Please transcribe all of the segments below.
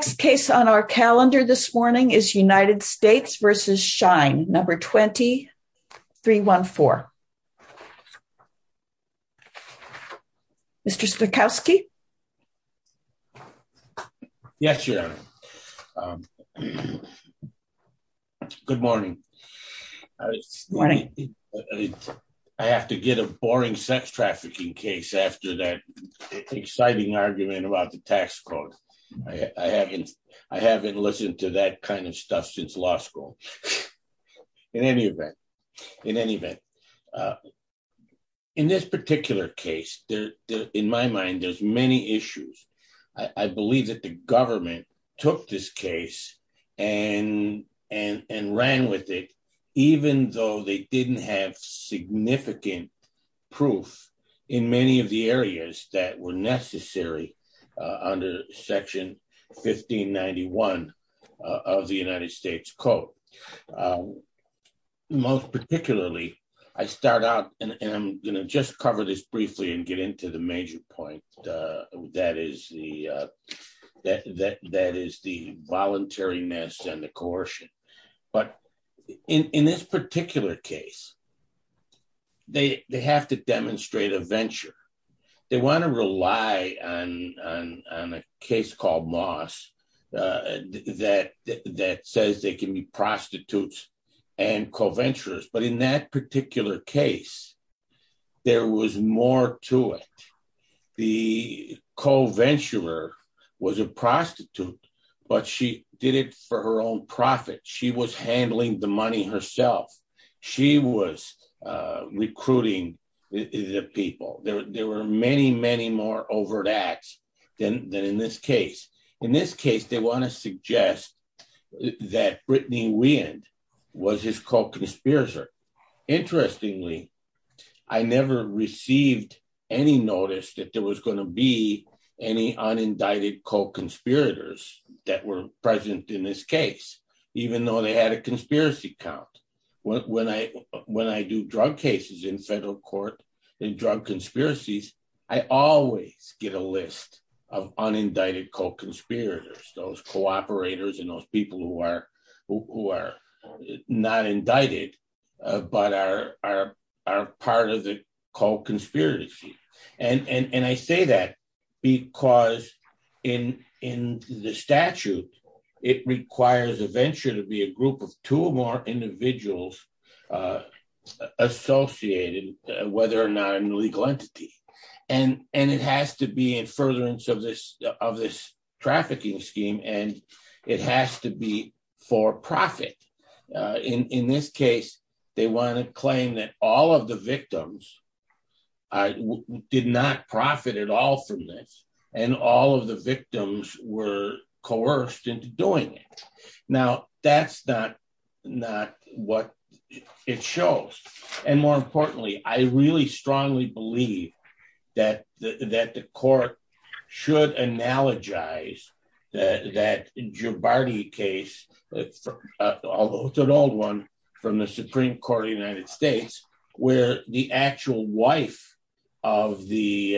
The next case on our calendar this morning is United States v. Shine, No. 20-314. Mr. Stokowski? Yes, Your Honor. Good morning. Morning. I have to get a boring sex trafficking case after that exciting argument about the tax code. I haven't listened to that kind of stuff since law school. In any event, in this particular case, in my mind, there's many issues. I believe that the government took this case and ran with it, even though they didn't have significant proof in many of the areas that were necessary under Section 1591 of the United States Code. Most particularly, I start out, and I'm going to just cover this briefly and get into the major point, that is the voluntariness and the coercion. But in this particular case, they have to demonstrate a venture. They want to rely on a case called Moss that says they can be prostitutes and co-venturers. But in that particular case, there was more to it. The co-venturer was a prostitute, but she did it for her own profit. She was handling the money herself. She was recruiting the people. There were many, many more overt acts than in this case. In this case, they want to suggest that Brittany Weand was his co-conspirator. Interestingly, I never received any notice that there was going to be any unindicted co-conspirators that were present in this case, even though they had a conspiracy count. When I do drug cases in federal court and drug conspiracies, I always get a list of unindicted co-conspirators, those co-operators and those people who are not indicted, but are part of the co-conspiracy. I say that because in the statute, it requires a venture to be a group of two or more individuals associated, whether or not an illegal entity. It has to be in furtherance of this trafficking scheme, and it has to be for profit. In this case, they want to claim that all of the victims did not profit at all from this, and all of the victims were coerced into doing it. Now, that's not what it shows. More importantly, I really strongly believe that the court should analogize that Giobardi case, although it's an old one, from the Supreme Court of the United States, where the actual wife of the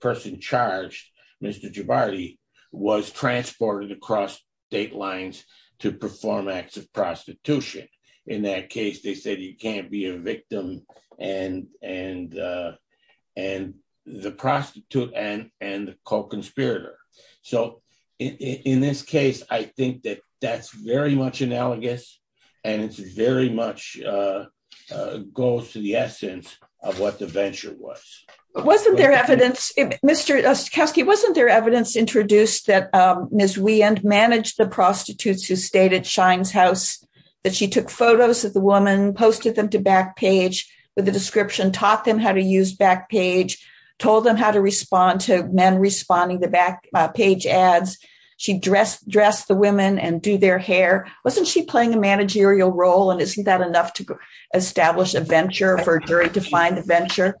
person charged, Mr. Giobardi, was transported across state lines to perform acts of prostitution. In that case, they said you can't be a victim and the prostitute and co-conspirator. So, in this case, I think that that's very much analogous, and it very much goes to the essence of what the venture was. Wasn't there evidence introduced that Ms. Wieand managed the prostitutes who stayed at Shine's house, that she took photos of the woman, posted them to Backpage with a description, taught them how to use Backpage, told them how to respond to men responding to Backpage ads? She dressed the women and did their hair. Wasn't she playing a managerial role, and isn't that enough to establish a venture for a jury-defined venture?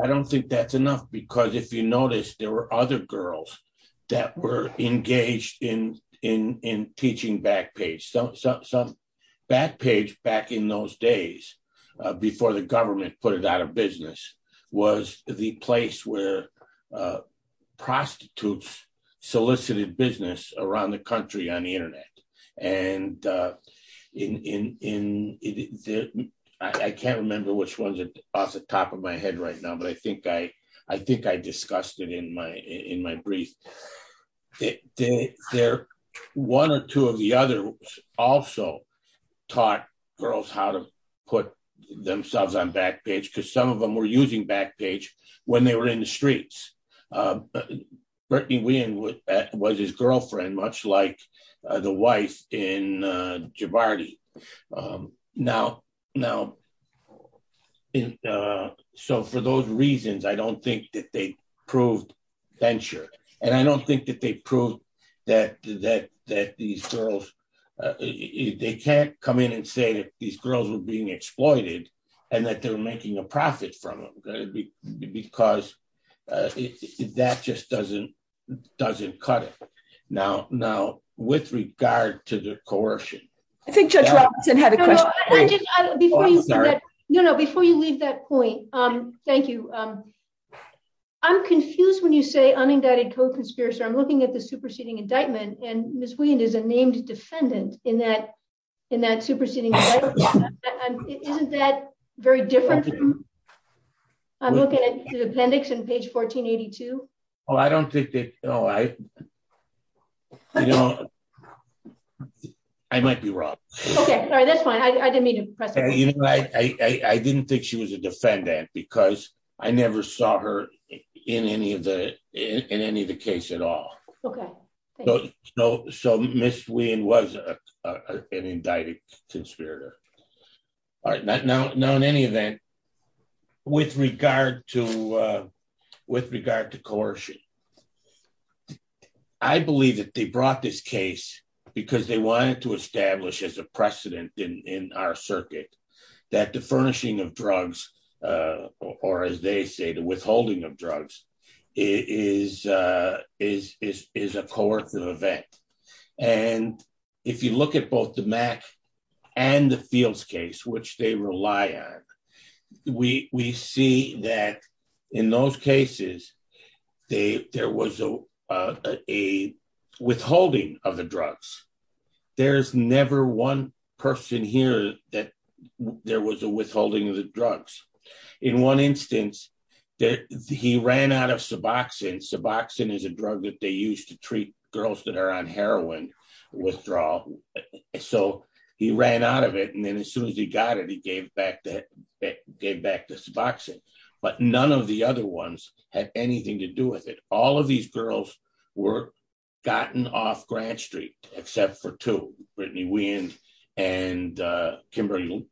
I don't think that's enough, because if you notice, there were other girls that were engaged in teaching Backpage. Backpage, back in those days, before the government put it out of business, was the place where prostitutes solicited business around the country on the Internet. I can't remember which ones are off the top of my head right now, but I think I discussed it in my brief. One or two of the others also taught girls how to put themselves on Backpage, because some of them were using Backpage when they were in the streets. Brittany Wieand was his girlfriend, much like the wife in Jabardi. Now, so for those reasons, I don't think that they proved venture, and I don't think that they proved that these girls, they can't come in and say that these girls were being exploited, and that they're making a profit from it, because that just doesn't cut it. Now, with regard to the coercion. I think Judge Robinson had a question. No, no, before you leave that point, thank you. I'm confused when you say unindicted co-conspirator. I'm looking at the superseding indictment, and Ms. Wieand is a named defendant in that superseding indictment. Isn't that very different? I'm looking at the appendix on page 1482. Oh, I don't think that, oh, I, you know, I might be wrong. Okay, sorry, that's fine. I didn't mean to press you. I didn't think she was a defendant, because I never saw her in any of the, in any of the case at all. Okay. So, Ms. Wieand was an indicted conspirator. Now, in any event, with regard to, with regard to coercion, I believe that they brought this case because they wanted to establish as a precedent in our circuit that the furnishing of drugs, or as they say, the withholding of drugs, is a coercive event. And if you look at both the Mack and the Fields case, which they rely on, we see that in those cases, there was a withholding of the drugs. There's never one person here that there was a withholding of the drugs. In one instance, he ran out of Suboxone. Suboxone is a drug that they use to treat girls that are on heroin withdrawal. So, he ran out of it, and then as soon as he got it, he gave back that, gave back the Suboxone. But none of the other ones had anything to do with it. All of these girls were gotten off Grant Street, except for two, Brittany Wieand and Kimberly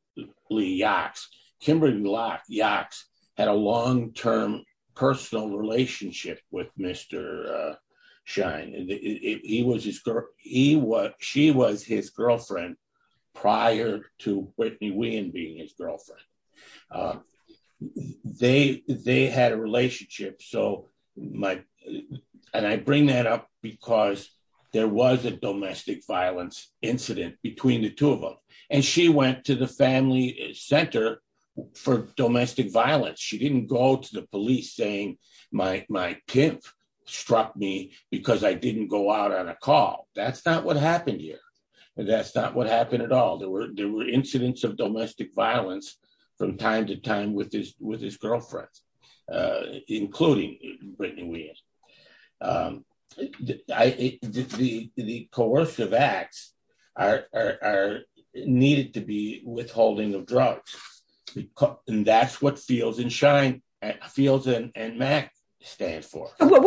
Yox. Kimberly Yox had a long-term personal relationship with Mr. Schein. She was his girlfriend prior to Brittany Wieand being his girlfriend. They had a relationship, and I bring that up because there was a domestic violence incident between the two of them. And she went to the family center for domestic violence. She didn't go to the police saying, my pimp struck me because I didn't go out on a call. That's not what happened here. That's not what happened at all. There were incidents of domestic violence from time to time with his girlfriend, including Brittany Wieand. The coercive acts needed to be withholding of drugs. And that's what Fields and Max stand for. The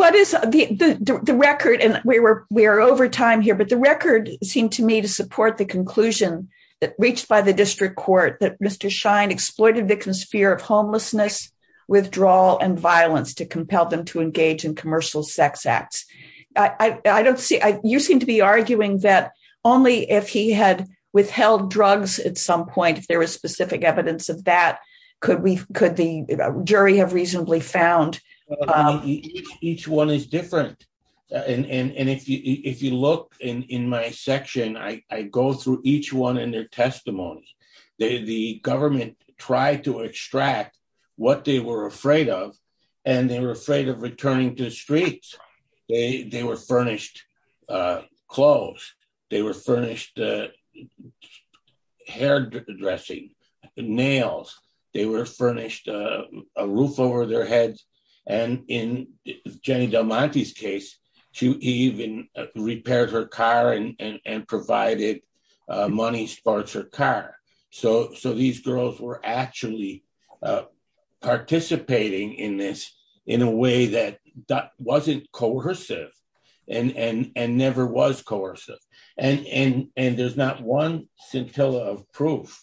record, and we are over time here, but the record seemed to me to support the conclusion that reached by the district court that Mr. Schein exploited the fear of homelessness, withdrawal, and violence to compel them to engage in commercial sex acts. You seem to be arguing that only if he had withheld drugs at some point, if there was specific evidence of that, could the jury have reasonably found... Each one is different. And if you look in my section, I go through each one in their testimony. The government tried to extract what they were afraid of, and they were afraid of returning to the streets. They were furnished clothes. They were furnished hairdressing, nails. They were furnished a roof over their heads. And in Jenny Del Monte's case, she even repaired her car and provided money for her car. So these girls were actually participating in this in a way that wasn't coercive and never was coercive. And there's not one scintilla of proof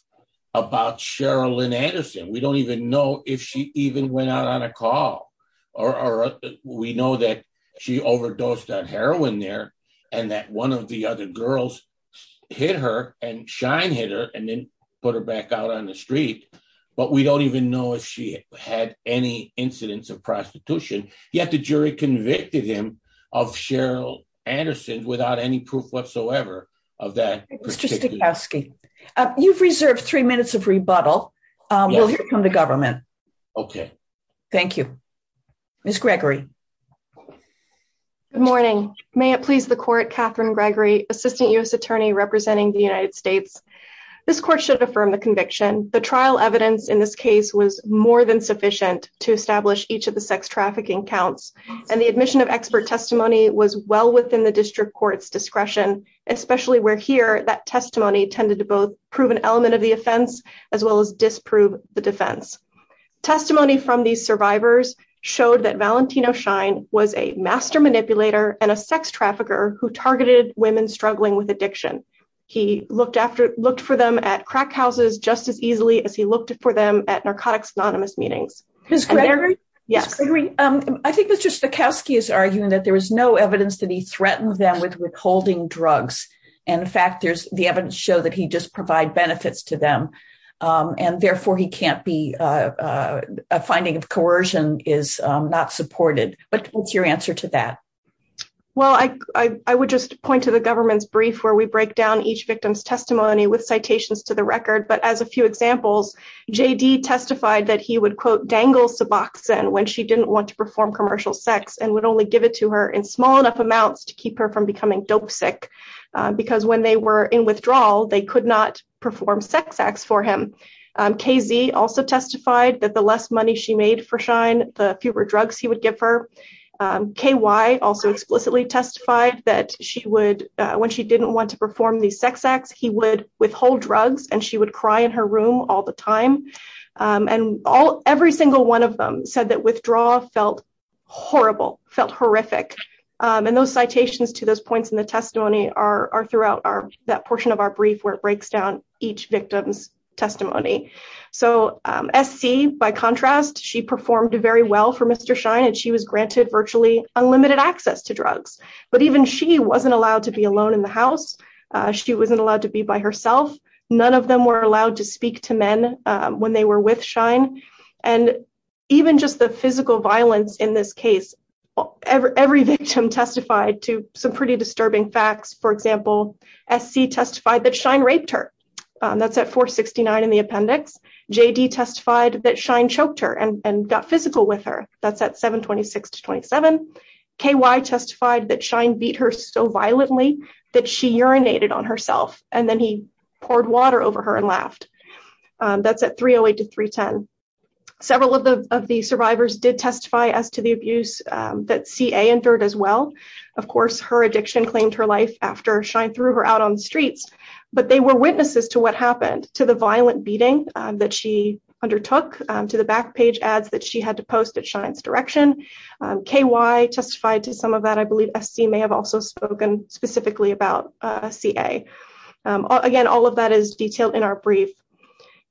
about Cheryl Lynn Anderson. We don't even know if she even went out on a call, or we know that she overdosed on heroin there, and that one of the other girls hit her, and Schein hit her, and then put her back out on the street. But we don't even know if she had any incidents of prostitution. Yet the jury convicted him of Cheryl Anderson without any proof whatsoever of that. Mr. Stokowski, you've reserved three minutes of rebuttal. We'll hear from the government. Okay. Thank you. Ms. Gregory. Good morning. May it please the court, Catherine Gregory, Assistant U.S. Attorney representing the United States. This court should affirm the conviction. The trial evidence in this case was more than sufficient to establish each of the sex trafficking counts, and the admission of expert testimony was well within the district court's discretion, especially where here that testimony tended to both prove an element of the offense as well as disprove the defense. Testimony from these survivors showed that Valentino Schein was a master manipulator and a sex trafficker who targeted women struggling with addiction. He looked for them at crack houses just as easily as he looked for them at Narcotics Anonymous meetings. Ms. Gregory. Yes. Ms. Gregory, I think Mr. Stokowski is arguing that there was no evidence that he threatened them with withholding drugs. In fact, the evidence showed that he just provided benefits to them, and therefore a finding of coercion is not supported. What's your answer to that? Well, I would just point to the government's brief where we break down each victim's testimony with citations to the record. But as a few examples, J.D. testified that he would, quote, dangle Suboxone when she didn't want to perform commercial sex and would only give it to her in small enough amounts to keep her from becoming dope sick because when they were in withdrawal, they could not perform sex acts for him. K.Z. also testified that the less money she made for Schein, the fewer drugs he would give her. K.Y. also explicitly testified that when she didn't want to perform these sex acts, he would withhold drugs and she would cry in her room all the time. And every single one of them said that withdrawal felt horrible, felt horrific. And those citations to those points in the testimony are throughout that portion of our brief where it breaks down each victim's testimony. So S.C., by contrast, she performed very well for Mr. Schein and she was granted virtually unlimited access to drugs. But even she wasn't allowed to be alone in the house. She wasn't allowed to be by herself. None of them were allowed to speak to men when they were with Schein. And even just the physical violence in this case, every victim testified to some pretty disturbing facts. For example, S.C. testified that Schein raped her. That's at 469 in the appendix. J.D. testified that Schein choked her and got physical with her. That's at 726-27. K.Y. testified that Schein beat her so violently that she urinated on herself. And then he poured water over her and laughed. That's at 308-310. Several of the survivors did testify as to the abuse that C.A. endured as well. Of course, her addiction claimed her life after Schein threw her out on the streets. But they were witnesses to what happened, to the violent beating that she undertook, to the back page ads that she had to post at Schein's direction. K.Y. testified to some of that. I believe S.C. may have also spoken specifically about C.A. Again, all of that is detailed in our brief.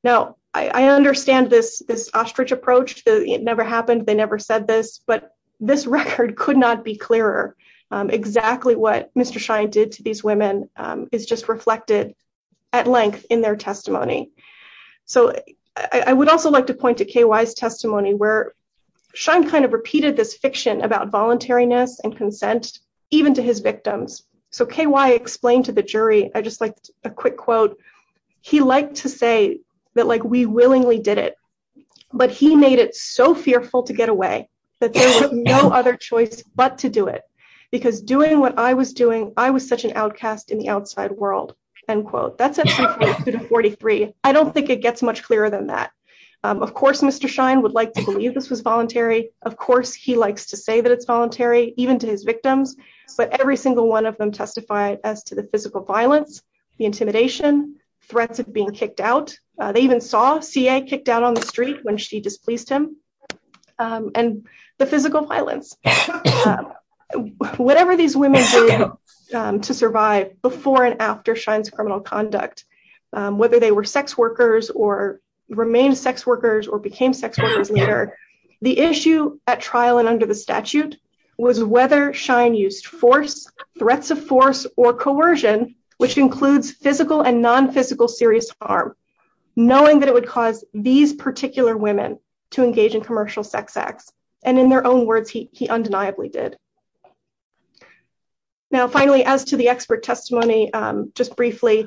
Now, I understand this ostrich approach. It never happened. They never said this. But this record could not be clearer. Exactly what Mr. Schein did to these women is just reflected at length in their testimony. So I would also like to point to K.Y.'s testimony where Schein kind of repeated this fiction about voluntariness and consent, even to his victims. So K.Y. explained to the jury. I just like a quick quote. He liked to say that like we willingly did it. But he made it so fearful to get away that there was no other choice but to do it. Because doing what I was doing, I was such an outcast in the outside world, end quote. That's at 42 to 43. I don't think it gets much clearer than that. Of course, Mr. Schein would like to believe this was voluntary. Of course, he likes to say that it's voluntary, even to his victims. But every single one of them testified as to the physical violence, the intimidation, threats of being kicked out. They even saw C.A. kicked out on the street when she displeased him. And the physical violence. Whatever these women did to survive before and after Schein's criminal conduct, whether they were sex workers or remained sex workers or became sex workers later. The issue at trial and under the statute was whether Schein used force, threats of force or coercion, which includes physical and non-physical serious harm. Knowing that it would cause these particular women to engage in commercial sex acts. And in their own words, he undeniably did. Now, finally, as to the expert testimony, just briefly.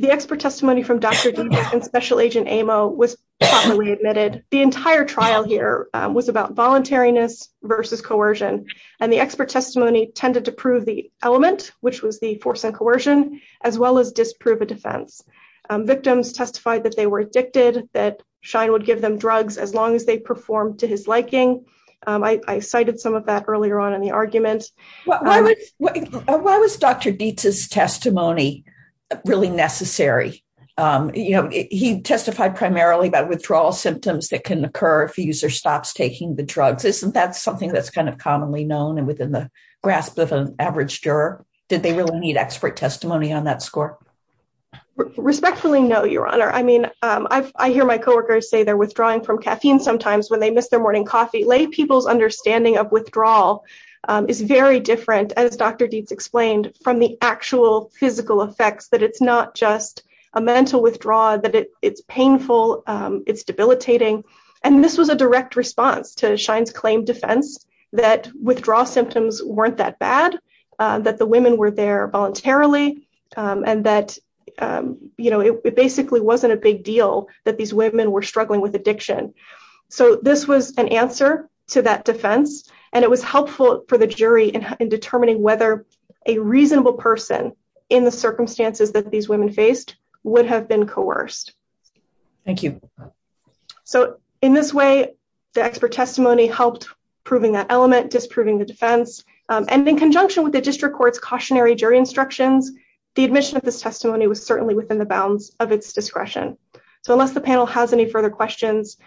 The expert testimony from Dr. Dukas and Special Agent Amo was properly admitted. The entire trial here was about voluntariness versus coercion. And the expert testimony tended to prove the element, which was the force and coercion, as well as disprove a defense. Victims testified that they were addicted, that Schein would give them drugs as long as they performed to his liking. I cited some of that earlier on in the argument. Why was Dr. Dietz's testimony really necessary? You know, he testified primarily about withdrawal symptoms that can occur if a user stops taking the drugs. Isn't that something that's kind of commonly known and within the grasp of an average juror? Did they really need expert testimony on that score? Respectfully, no, Your Honor. I mean, I hear my coworkers say they're withdrawing from caffeine sometimes when they miss their morning coffee. Lay People's understanding of withdrawal is very different, as Dr. Dietz explained, from the actual physical effects. That it's not just a mental withdrawal, that it's painful, it's debilitating. And this was a direct response to Schein's claimed defense that withdrawal symptoms weren't that bad. That the women were there voluntarily. And that, you know, it basically wasn't a big deal that these women were struggling with addiction. So this was an answer to that defense. And it was helpful for the jury in determining whether a reasonable person in the circumstances that these women faced would have been coerced. Thank you. So in this way, the expert testimony helped proving that element, disproving the defense. And in conjunction with the district court's cautionary jury instructions, the admission of this testimony was certainly within the bounds of its discretion. So unless the panel has any further questions,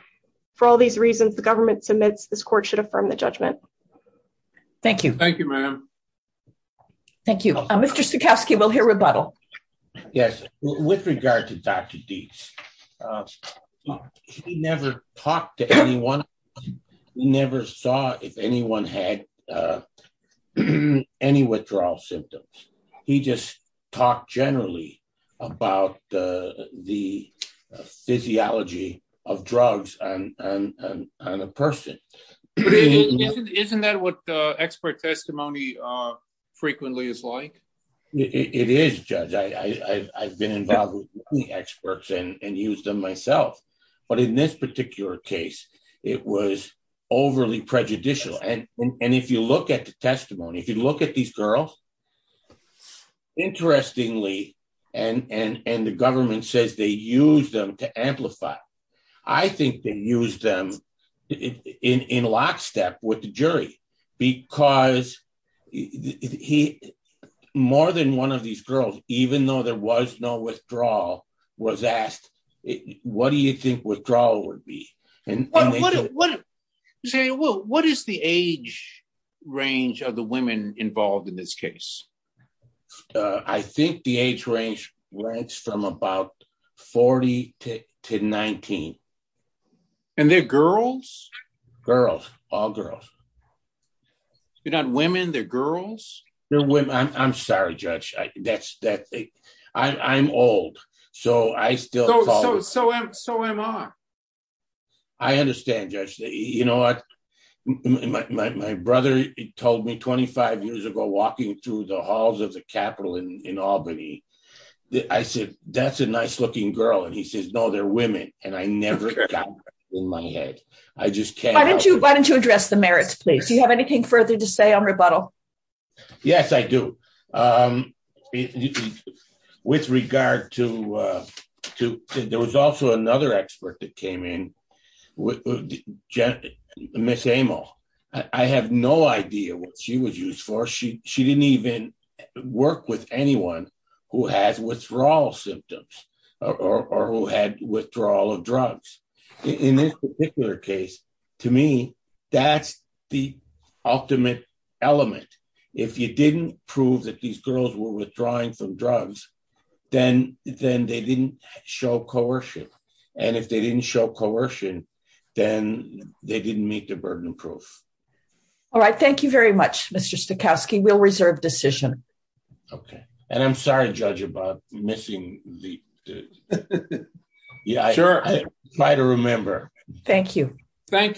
for all these reasons, the government submits this court should affirm the judgment. Thank you. Thank you, ma'am. Thank you. Mr. Zukoski, we'll hear rebuttal. Yes, with regard to Dr. Dietz, he never talked to anyone. He never saw if anyone had any withdrawal symptoms. He just talked generally about the physiology of drugs on a person. Isn't that what expert testimony frequently is like? It is, Judge. I've been involved with many experts and used them myself. But in this particular case, it was overly prejudicial. And if you look at the testimony, if you look at these girls, interestingly, and the government says they use them to amplify, I think they use them in lockstep with the jury. Because more than one of these girls, even though there was no withdrawal, was asked, what do you think withdrawal would be? What is the age range of the women involved in this case? I think the age range went from about 40 to 19. And they're girls? Girls, all girls. They're not women? They're girls? I'm sorry, Judge. I'm old. So am I. I understand, Judge. You know what? My brother told me 25 years ago, walking through the halls of the Capitol in Albany, I said, that's a nice looking girl. And he says, no, they're women. And I never got that in my head. Why don't you address the merits, please? Do you have anything further to say on rebuttal? Yes, I do. With regard to, there was also another expert that came in, Miss Amel. I have no idea what she was used for. She didn't even work with anyone who has withdrawal symptoms or who had withdrawal of drugs. In this particular case, to me, that's the ultimate element. If you didn't prove that these girls were withdrawing from drugs, then they didn't show coercion. And if they didn't show coercion, then they didn't meet the burden of proof. All right. Thank you very much, Mr. Stokowski. We'll reserve decision. Okay. And I'm sorry, Judge, about missing the... Try to remember. Thank you. Thank you.